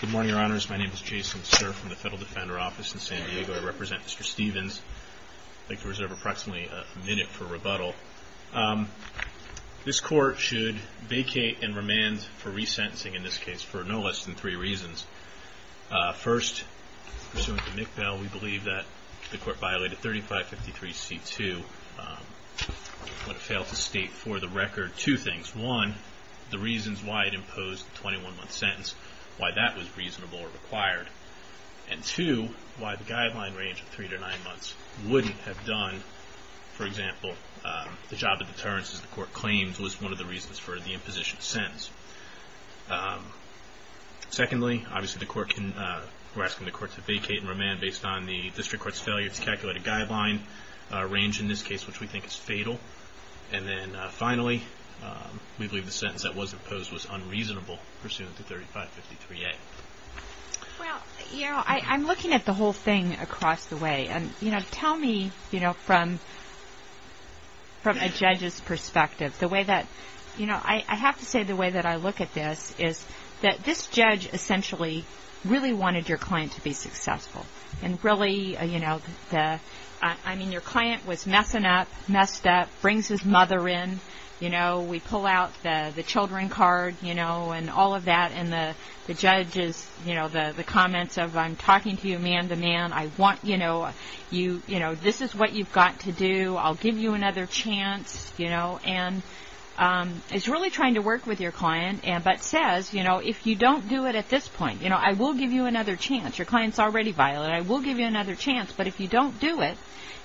Good morning, Your Honors. My name is Jason Cerf from the Federal Defender Office in San Diego. I represent Mr. Stevens. I'd like to reserve approximately a minute for rebuttal. This Court should vacate and remand for resentencing in this case for no less than three reasons. First, pursuant to McBell, we believe that the Court violated 3553c2, but it failed to state for the record two things. One, the reasons why it imposed the 21-month sentence, why that was reasonable or required. And two, why the guideline range of three to nine months wouldn't have done, for example, the job of deterrence as the Court claims was one of the reasons for the imposition sentence. Secondly, we're asking the Court to vacate and remand based on the District Court's failure to calculate a guideline range in this case, which we think is fatal. And then finally, we believe the sentence that was imposed was unreasonable pursuant to 3553a. MS. STEPHENS Well, I'm looking at the whole thing across the way. Tell me from a judge's perspective, the way that, you know, I have to say the way that I look at this is that this judge essentially really wanted your client to be successful. And really, you know, I mean, your client was messing up, messed up, brings his mother in, you know, we pull out the children card, you know, and all of that. And the judge is, you know, the comments of I'm talking to you man-to-man, I want, you know, this is what you've got to do, I'll give you another chance, you know. And it's really trying to work with your client, but says, you know, if you don't do it at this point, you know, I will give you another chance, your client's already violent, I will give you another chance, but if you don't do it,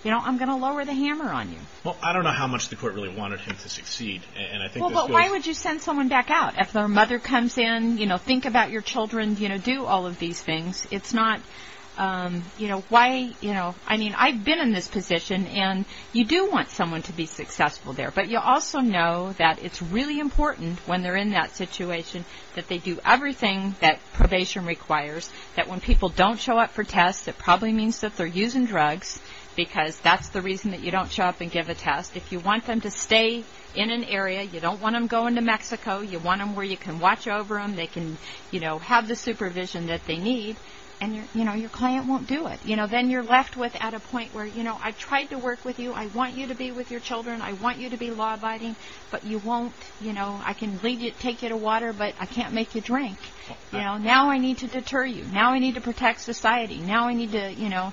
you know, I'm going to lower the hammer on you. MR. MCGREGOR Well, I don't know how much the Court really wanted him to succeed. And I think this goes MS. STEPHENS Well, but why would you send someone back out if their mother comes in, you know, think about your children, you know, do all of these things. It's not, you know, why, you know, I mean, I've been in this position and you do want someone to be successful there, but you also know that it's really important when they're in that situation that they do everything that probation requires, that when people don't show up for tests, it probably means that they're using drugs, because that's the reason that you don't show up and give a test. If you want them to stay in an area, you don't want them going to Mexico, you want them where you can watch over them, they can, you know, have the supervision that they need, and, you know, your client won't do it. You know, then you're left with at a point where, you know, I've tried to work with you, I want you to be with your children, I want you to be law-abiding, but you won't, you know, I can lead you, take you to water, but I can't make you drink. You know, now I need to deter you, now I need to protect society, now I need to, you know,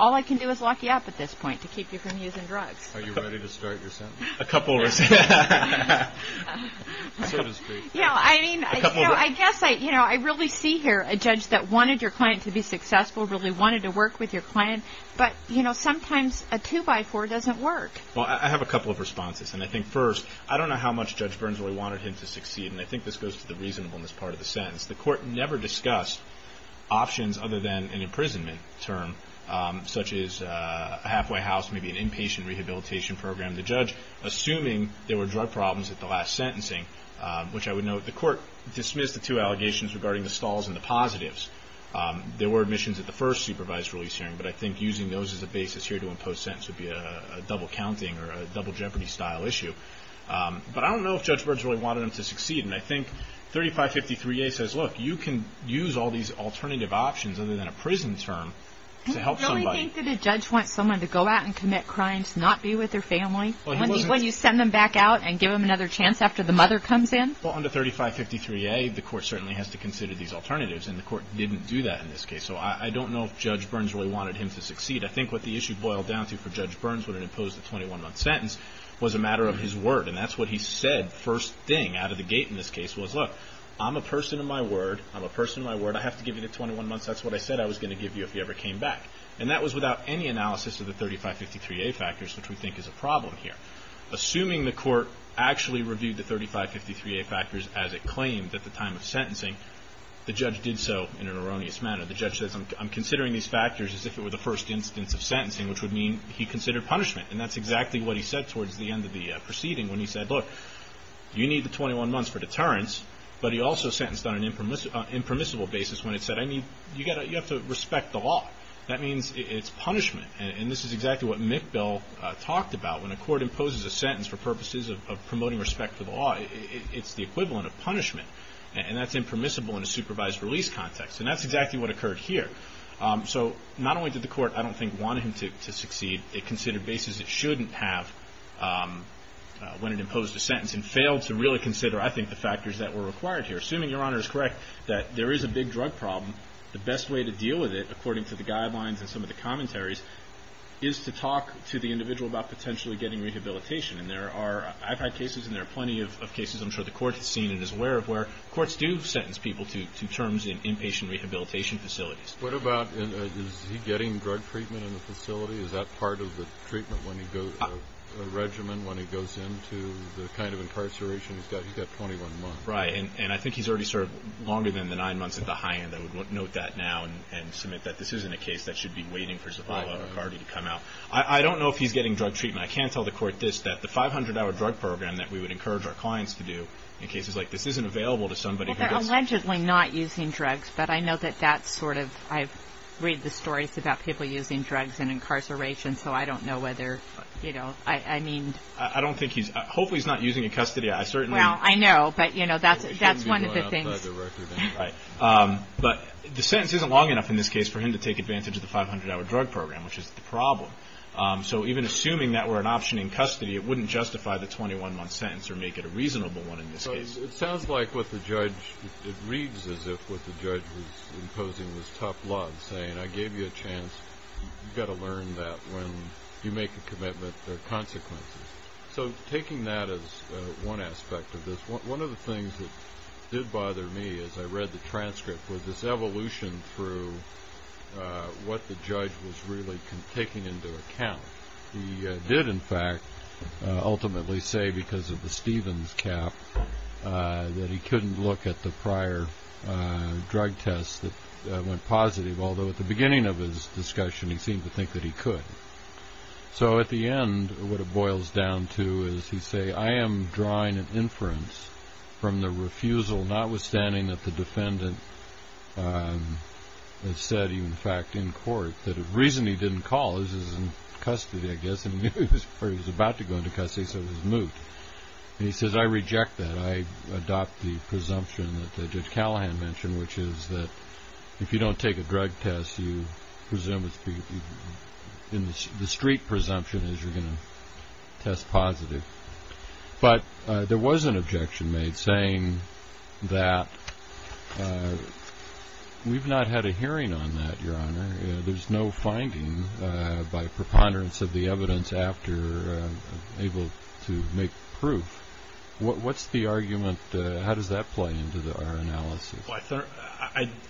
all I can do is lock you up at this point to keep you from using drugs. MR. MCGREGOR Are you ready to start your sentence? MR. MCGREGOR A couple of... MR. MCGREGOR So to speak. MR. MCGREGOR A couple of... MS. MCGREGOR Yeah, I mean, I guess, you know, I really see here a judge that wanted your client to be successful, really wanted to work with your client, but, you know, sometimes a two-by-four doesn't work. MR. MCGREGOR Well, I have a couple of responses, and I think first, I don't know how much Judge Burns really wanted him to succeed, and I think this goes to the reasonableness part of the sentence. The court never discussed options other than an imprisonment term, such as a halfway house, maybe an inpatient rehabilitation program. The judge, assuming there were drug problems at the last sentencing, which I would note, the court dismissed the two allegations regarding the stalls and the positives. There were admissions at the first supervised release hearing, but I think using those as a basis here to impose sentence would be a double counting or a double jeopardy style issue. But I don't know if Judge Burns really wanted him to succeed, and I think 3553A says, look, you can use all these alternative options other than a prison term to help somebody. MS. MCGREGOR Do you really think that a judge wants someone to go out and commit crimes, not be with their family, when you send them back out and give them another chance after the mother comes in? MR. KREGER Well, under 3553A, the court certainly has to consider these alternatives, and the court didn't do that in this case. So I don't know if Judge Burns really wanted him to succeed. I think what the issue boiled down to for Judge Burns when it imposed the 21-month sentence was a matter of his word, and that's what he said first thing out of the gate in this case was, look, I'm a person of my word. I'm a person of my word. I have to give you the 21 months. That's what I said I was going to give you if you ever came back. And that was without any analysis of the 3553A factors, which we think is a problem here. Assuming the court actually reviewed the 3553A factors as it claimed at the time of sentencing, the judge did so in an erroneous manner. The judge says, I'm considering these factors as if it were the first instance of sentencing, which would mean he considered punishment. And that's exactly what he said towards the end of the proceeding when he said, look, you need the 21 months for deterrence, but he also sentenced on an impermissible basis when it said, I mean, you have to respect the law. That means it's punishment. And this is exactly what McBell talked about. When a court imposes a sentence for purposes of promoting respect for the law, it's the equivalent of punishment. And that's impermissible in a supervised release context. And that's exactly what occurred here. So not only did the court, I don't think, want him to succeed, it considered bases it shouldn't have when it imposed a sentence and failed to really consider, I think, the factors that were required here. I'm assuming Your Honor is correct that there is a big drug problem. The best way to deal with it, according to the guidelines and some of the commentaries, is to talk to the individual about potentially getting rehabilitation. And there are – I've had cases and there are plenty of cases I'm sure the court has seen and is aware of where courts do sentence people to terms in inpatient rehabilitation facilities. What about – is he getting drug treatment in the facility? Is that part of the treatment when he goes – a regimen when he goes into the kind of incarceration he's got? He's got 21 months. Right. And I think he's already served longer than the nine months at the high end. I would note that now and submit that this isn't a case that should be waiting for Zavala or McCarty to come out. I don't know if he's getting drug treatment. I can tell the court this, that the 500-hour drug program that we would encourage our clients to do in cases like this isn't available to somebody who does – Well, they're allegedly not using drugs, but I know that that's sort of – I read the stories about people using drugs in incarceration, so I don't know whether, you know, I mean – I don't think he's – hopefully he's not using in custody. I certainly – No, that's one of the things – He shouldn't be going out by the record, anyway. Right. But the sentence isn't long enough in this case for him to take advantage of the 500-hour drug program, which is the problem. So even assuming that were an option in custody, it wouldn't justify the 21-month sentence or make it a reasonable one in this case. So it sounds like what the judge – it reads as if what the judge was imposing was tough law and saying, I gave you a chance. You've got to learn that when you make a commitment, there are consequences. So taking that as one aspect of this, one of the things that did bother me as I read the transcript was this evolution through what the judge was really taking into account. He did, in fact, ultimately say because of the Stevens cap that he couldn't look at the prior drug test that went positive, although at the beginning of his discussion, he seemed to think that he could. So at the end, what it boils down to is he say, I am drawing an inference from the refusal, notwithstanding that the defendant has said, in fact, in court that the reason he didn't call is in custody, I guess, and he was about to go into custody, so he was moot. And he says, I reject that. I adopt the presumption that Judge Callahan mentioned, which is that if you don't take a drug test, you presume the street presumption is you're going to test positive. But there was an objection made saying that we've not had a hearing on that, Your Honor. There's no finding by preponderance of the evidence after able to make proof. What's the argument? How does that play into our analysis? Well,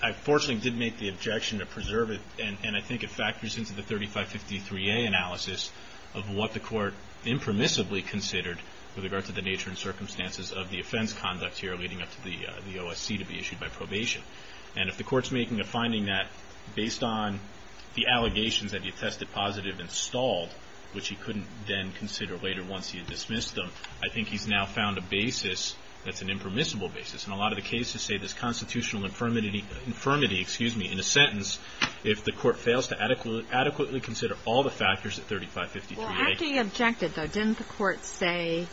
I fortunately did make the objection to preserve it, and I think it factors into the 3553A analysis of what the court impermissibly considered with regard to the nature and circumstances of the offense conduct here leading up to the OSC to be issued by probation. And if the court's making a finding that, based on the allegations that he tested positive and stalled, which he couldn't then consider later once he had dismissed them, I think he's now found a basis that's an impermissible basis. And a lot of the cases say this constitutional infirmity in a sentence if the court fails to adequately consider all the factors of 3553A. Well, after you objected, though, didn't the court say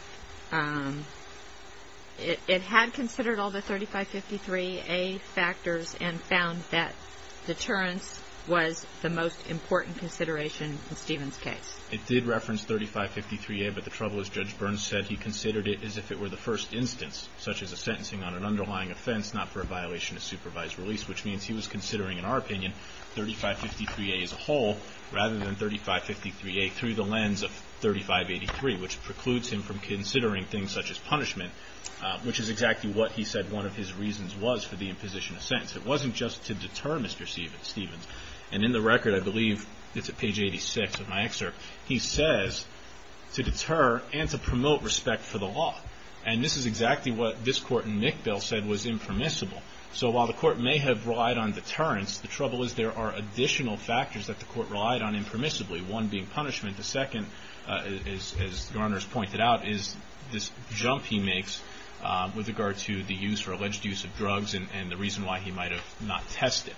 it had considered all the 3553A factors and found that deterrence was the most important consideration in Stephen's case? It did reference 3553A, but the trouble is Judge Burns said he considered it as if it were the first instance, such as a sentencing on an underlying offense, not for a violation of supervised release, which means he was considering, in our opinion, 3553A as a whole rather than 3553A through the lens of 3583, which precludes him from considering things such as punishment, which is exactly what he said one of his reasons was for the imposition of sentence. It wasn't just to deter Mr. Stephens. And in the record, I believe it's page 86 of my excerpt, he says, to deter and to promote respect for the law. And this is exactly what this court in McBill said was impermissible. So while the court may have relied on deterrence, the trouble is there are additional factors that the court relied on impermissibly, one being punishment. The second, as Garner's pointed out, is this jump he makes with regard to the use or alleged use of drugs and the reason why he might have not tested.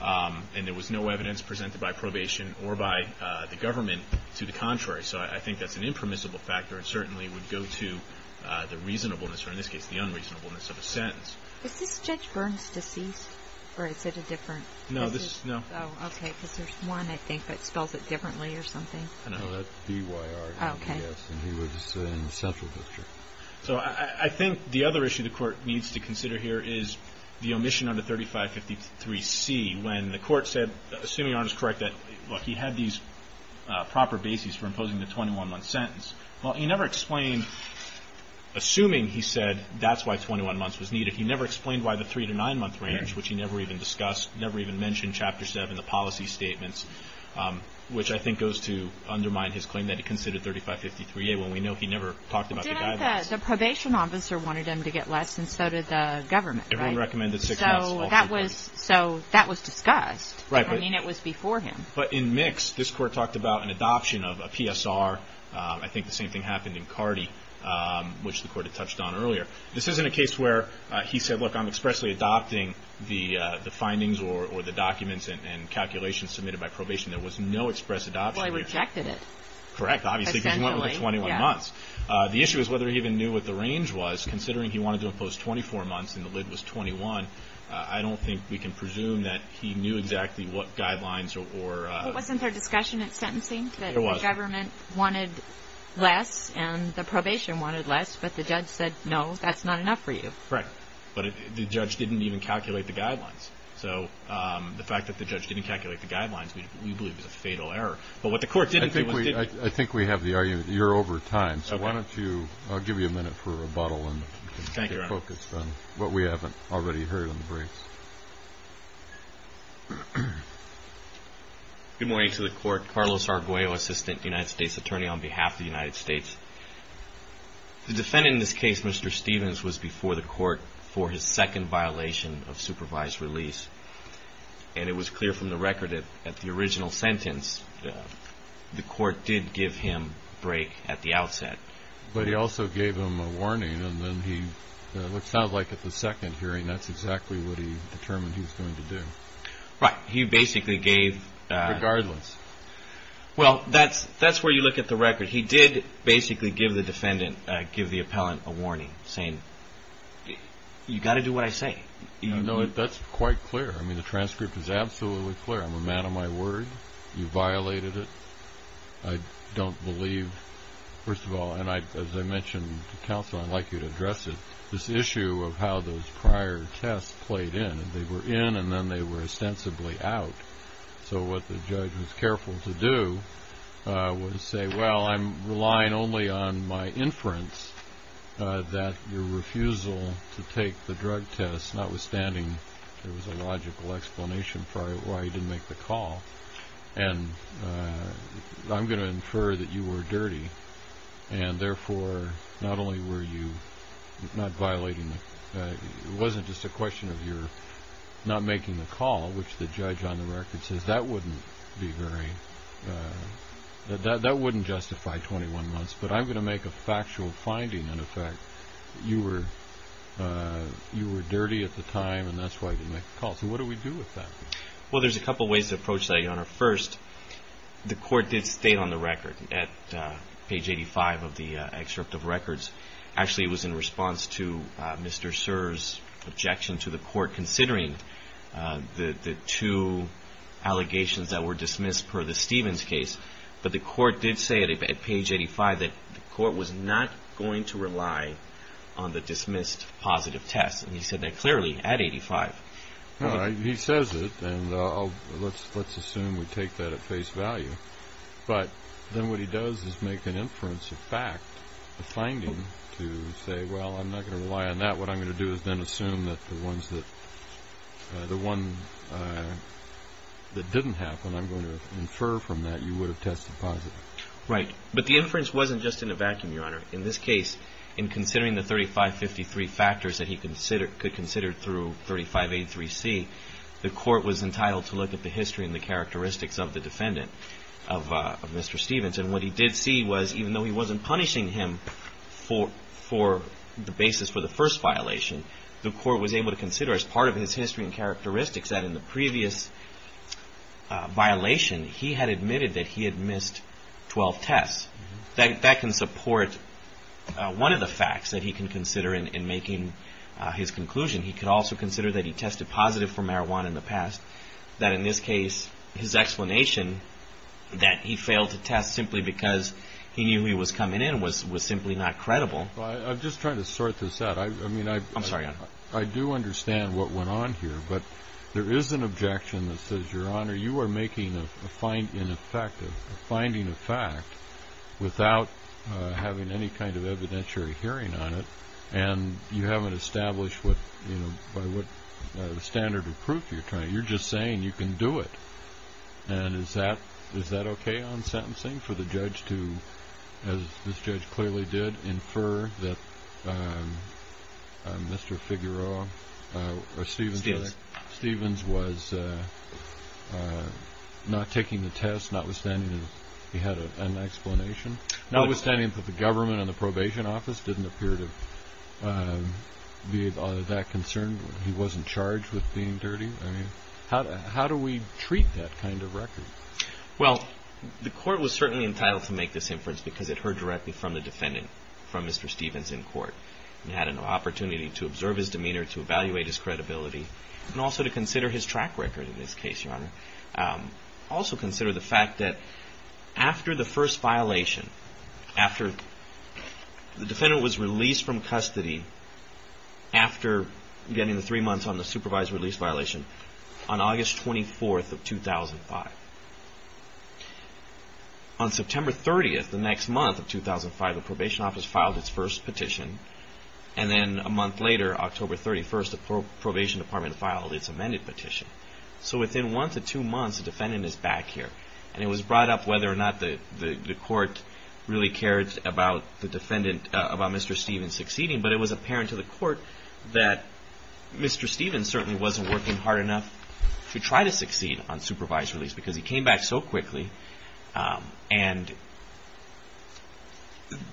And there was no evidence presented by probation or by the government to the contrary. So I think that's an impermissible factor and certainly would go to the reasonableness, or in this case, the unreasonableness of a sentence. Is this Judge Burns' deceased, or is it a different? No, this is, no. Oh, okay. Because there's one, I think, that spells it differently or something. No, that's B-Y-R-N-D-S. Okay. And he was in the Central District. So I think the other issue the court needs to consider here is the omission under 3553C when the court said, assuming Arndt is correct, that, look, he had these proper bases for imposing the 21-month sentence. Well, he never explained, assuming he said that's why 21 months was needed, he never explained why the 3- to 9-month range, which he never even discussed, never even mentioned Chapter 7, the policy statements, which I think goes to undermine his claim that he considered 3553A when we know he never talked about the guidelines. But the probation officer wanted him to get less, and so did the government, right? Everyone recommended 6 months. So that was discussed. Right. I mean, it was before him. But in Mix, this court talked about an adoption of a PSR. I think the same thing happened in Cardi, which the court had touched on earlier. This isn't a case where he said, look, I'm expressly adopting the findings or the documents and calculations submitted by probation. There was no express adoption. Well, he rejected it. Correct, obviously, because he went with 21 months. The issue is whether he even knew what the range was, considering he wanted to impose 24 months and the LID was 21. I don't think we can presume that he knew exactly what guidelines or ---- But wasn't there discussion at sentencing that the government wanted less and the probation wanted less, but the judge said, no, that's not enough for you? Correct. But the judge didn't even calculate the guidelines. So the fact that the judge didn't calculate the guidelines we believe is a fatal error. But what the court didn't do was ---- I think we have the argument. You're over time. So why don't you ---- I'll give you a minute for a rebuttal and get focused on what we haven't already heard in the briefs. Good morning to the court. Carlos Arguello, assistant United States attorney on behalf of the United States. The defendant in this case, Mr. Stevens, was before the court for his second violation of supervised release. And it was clear from the record that at the original sentence, the court did give him break at the outset. But he also gave him a warning. And then he ---- It sounds like at the second hearing that's exactly what he determined he was going to do. Right. He basically gave ---- Regardless. Well, that's where you look at the record. He did basically give the defendant, give the appellant a warning, saying, you've got to do what I say. That's quite clear. I mean, the transcript is absolutely clear. I'm a man of my word. You violated it. I don't believe, first of all, and as I mentioned to counsel, I'd like you to address it, this issue of how those prior tests played in. They were in and then they were ostensibly out. So what the judge was careful to do was say, well, I'm relying only on my inference that your refusal to take the drug test, notwithstanding there was a logical explanation for why you didn't make the call. And I'm going to infer that you were dirty. And, therefore, not only were you not violating the ---- it wasn't just a question of your not making the call, which the judge on the record says that wouldn't be very ---- that wouldn't justify 21 months. But I'm going to make a factual finding. And, in fact, you were dirty at the time, and that's why you didn't make the call. So what do we do with that? Well, there's a couple ways to approach that, Your Honor. First, the court did state on the record, at page 85 of the excerpt of records, actually it was in response to Mr. Serr's objection to the court, considering the two allegations that were dismissed per the Stevens case. But the court did say at page 85 that the court was not going to rely on the dismissed positive test. And he said that clearly at 85. He says it, and let's assume we take that at face value. But then what he does is make an inference of fact, a finding, to say, well, I'm not going to rely on that. What I'm going to do is then assume that the one that didn't happen, and I'm going to infer from that you would have tested positive. Right. But the inference wasn't just in a vacuum, Your Honor. In this case, in considering the 3553 factors that he could consider through 3583C, the court was entitled to look at the history and the characteristics of the defendant, of Mr. Stevens. And what he did see was, even though he wasn't punishing him for the basis for the first violation, the court was able to consider as part of his history and characteristics that in the previous violation, he had admitted that he had missed 12 tests. That can support one of the facts that he can consider in making his conclusion. He could also consider that he tested positive for marijuana in the past, that in this case his explanation that he failed to test simply because he knew he was coming in was simply not credible. I'm just trying to sort this out. I'm sorry. I do understand what went on here, but there is an objection that says, Your Honor, you are making a finding of fact without having any kind of evidentiary hearing on it, and you haven't established by what standard of proof you're trying. You're just saying you can do it. And is that okay on sentencing for the judge to, as this judge clearly did, infer that Mr. Figueroa or Stevens was not taking the test notwithstanding he had an explanation? Notwithstanding that the government and the probation office didn't appear to be of that concern? He wasn't charged with being dirty? I mean, how do we treat that kind of record? Well, the court was certainly entitled to make this inference because it heard directly from the defendant, from Mr. Stevens in court, and had an opportunity to observe his demeanor, to evaluate his credibility, and also to consider his track record in this case, Your Honor. Also consider the fact that after the first violation, after the defendant was released from custody after getting the three months on the supervised release violation on August 24th of 2005, on September 30th, the next month of 2005, the probation office filed its first petition. And then a month later, October 31st, the probation department filed its amended petition. So within one to two months, the defendant is back here. And it was brought up whether or not the court really cared about Mr. Stevens succeeding, but it was apparent to the court that Mr. Stevens certainly wasn't working hard enough to try to succeed on supervised release because he came back so quickly. And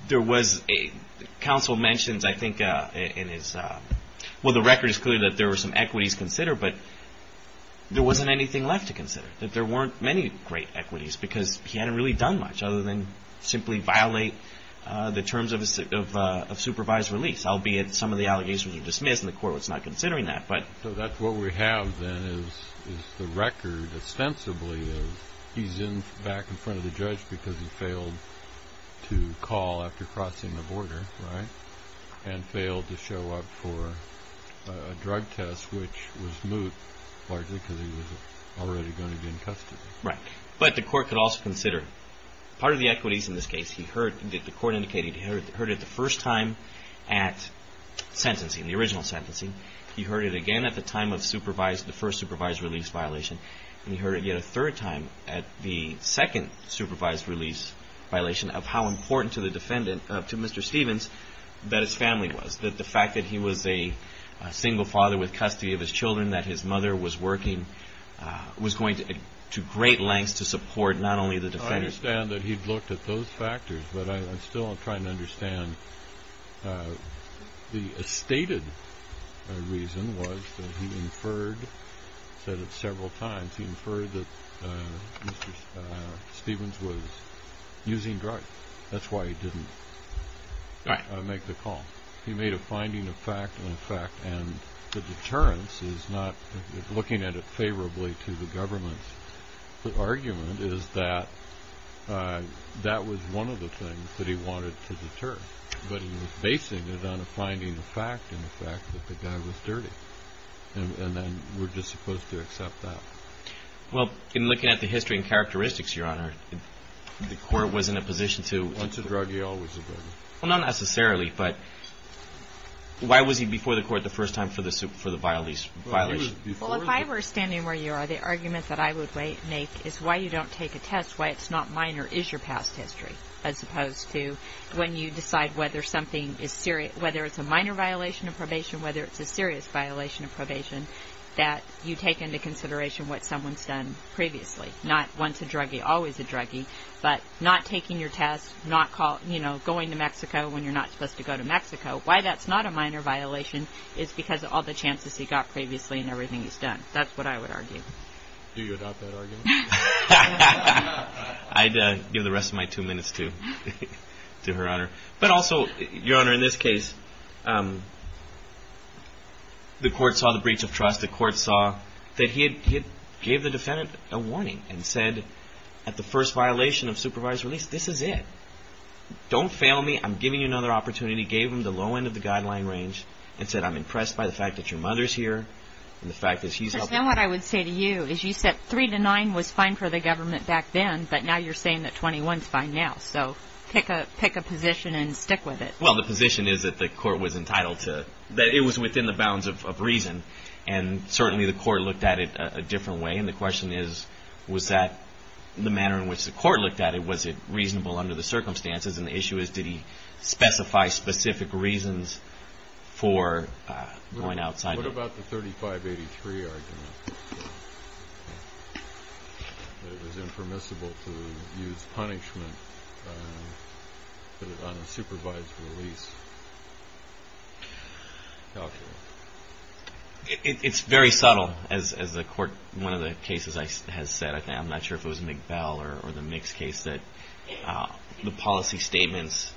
there was a council mentions, I think, in his – well, the record is clear that there were some equities considered, but there wasn't anything left to consider, that there weren't many great equities because he hadn't really done much other than simply violate the terms of supervised release, albeit some of the allegations were dismissed and the court was not considering that. So that's what we have then is the record ostensibly of he's back in front of the judge because he failed to call after crossing the border, right, and failed to show up for a drug test, which was moot, largely because he was already going to be in custody. Right. But the court could also consider part of the equities in this case. He heard – the court indicated he heard it the first time at sentencing, the original sentencing. He heard it again at the time of supervised – the first supervised release violation, and he heard it yet a third time at the second supervised release violation of how important to the defendant – to Mr. Stevens that his family was, that the fact that he was a single father with custody of his children, that his mother was working, was going to great lengths to support not only the defendant. I understand that he looked at those factors, but I'm still trying to understand. The stated reason was that he inferred that several times, he inferred that Mr. Stevens was using drugs. That's why he didn't make the call. He made a finding of fact and a fact, and the deterrence is not – looking at it favorably to the government's argument is that that was one of the things that he wanted to deter, but he was basing it on a finding of fact and a fact that the guy was dirty, and then we're just supposed to accept that. Well, in looking at the history and characteristics, Your Honor, the court was in a position to – Once a drug, he always a drug. Well, not necessarily, but why was he before the court the first time for the violation? Well, if I were standing where you are, the argument that I would make is why you don't take a test, why it's not minor, is your past history, as opposed to when you decide whether something is serious – whether it's a minor violation of probation, whether it's a serious violation of probation, that you take into consideration what someone's done previously. Not once a druggie, always a druggie, but not taking your test, not going to Mexico when you're not supposed to go to Mexico, why that's not a minor violation is because of all the chances he got previously and everything he's done. That's what I would argue. Do you adopt that argument? I'd give the rest of my two minutes to Her Honor. But also, Your Honor, in this case, the court saw the breach of trust. The court saw that he had gave the defendant a warning and said at the first violation of supervised release, this is it. Don't fail me. I'm giving you another opportunity. Gave him the low end of the guideline range and said, I'm impressed by the fact that your mother's here and the fact that she's helping. Because then what I would say to you is you said three to nine was fine for the government back then, but now you're saying that 21's fine now. So pick a position and stick with it. Well, the position is that the court was entitled to – that it was within the bounds of reason, and certainly the court looked at it a different way, and the question is, was that the manner in which the court looked at it? Was it reasonable under the circumstances? And the issue is, did he specify specific reasons for going outside? What about the 3583 argument that it was impermissible to use punishment on a supervised release? Calculate. It's very subtle. As one of the cases has said, I'm not sure if it was McBell or the Mix case, that the policy statements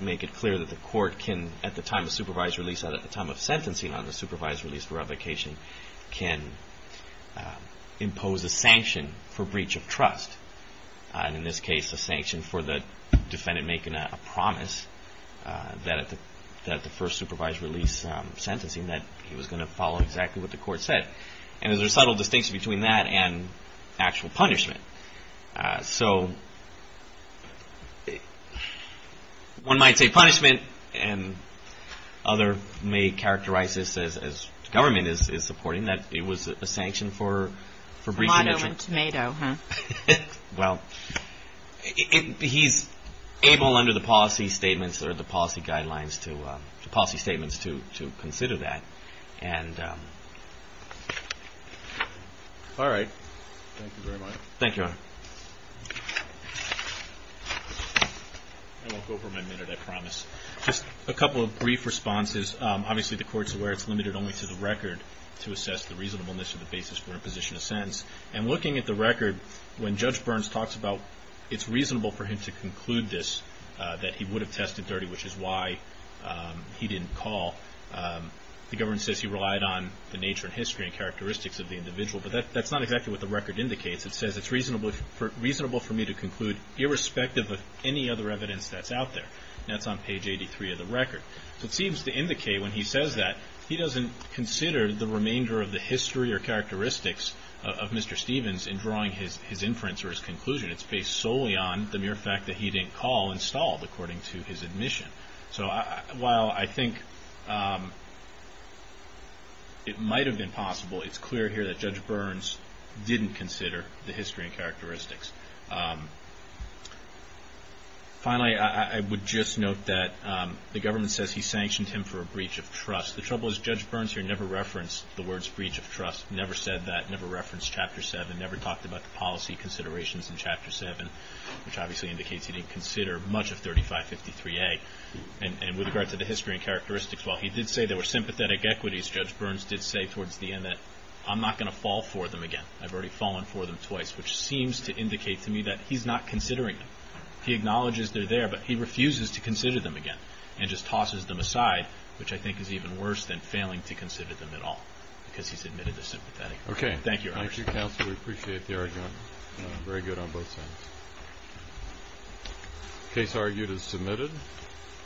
make it clear that the court can, at the time of supervised release or at the time of sentencing on the supervised release revocation, can impose a sanction for breach of trust. And in this case, a sanction for the defendant making a promise that at the first supervised release sentencing, that he was going to follow exactly what the court said. And there's a subtle distinction between that and actual punishment. So one might say punishment, and other may characterize this as government is supporting, that it was a sanction for breach of – Tomato, huh? Well, he's able under the policy statements or the policy guidelines to – policy statements to consider that. All right. Thank you very much. Thank you, Your Honor. I won't go for my minute, I promise. Just a couple of brief responses. Obviously, the court's aware it's limited only to the record to assess the reasonableness of the basis for imposition of sentence. And looking at the record, when Judge Burns talks about it's reasonable for him to conclude this, that he would have tested 30, which is why he didn't call, the government says he relied on the nature and history and characteristics of the individual. But that's not exactly what the record indicates. It says it's reasonable for me to conclude irrespective of any other evidence that's out there. And that's on page 83 of the record. So it seems to indicate when he says that, he doesn't consider the remainder of the history or characteristics of Mr. Stevens in drawing his inference or his conclusion. It's based solely on the mere fact that he didn't call and stall according to his admission. So while I think it might have been possible, it's clear here that Judge Burns didn't consider the history and characteristics. Finally, I would just note that the government says he sanctioned him for a breach of trust. The trouble is Judge Burns here never referenced the words breach of trust, never said that, never referenced Chapter 7, never talked about the policy considerations in Chapter 7, which obviously indicates he didn't consider much of 3553A. And with regard to the history and characteristics, while he did say there were sympathetic equities, Judge Burns did say towards the end that I'm not going to fall for them again. I've already fallen for them twice, which seems to indicate to me that he's not considering them. He acknowledges they're there, but he refuses to consider them again and just tosses them aside, which I think is even worse than failing to consider them at all because he's admitted to sympathetic equities. Thank you, Your Honor. Thank you, counsel. We appreciate the argument. Very good on both sides. The case argued is submitted.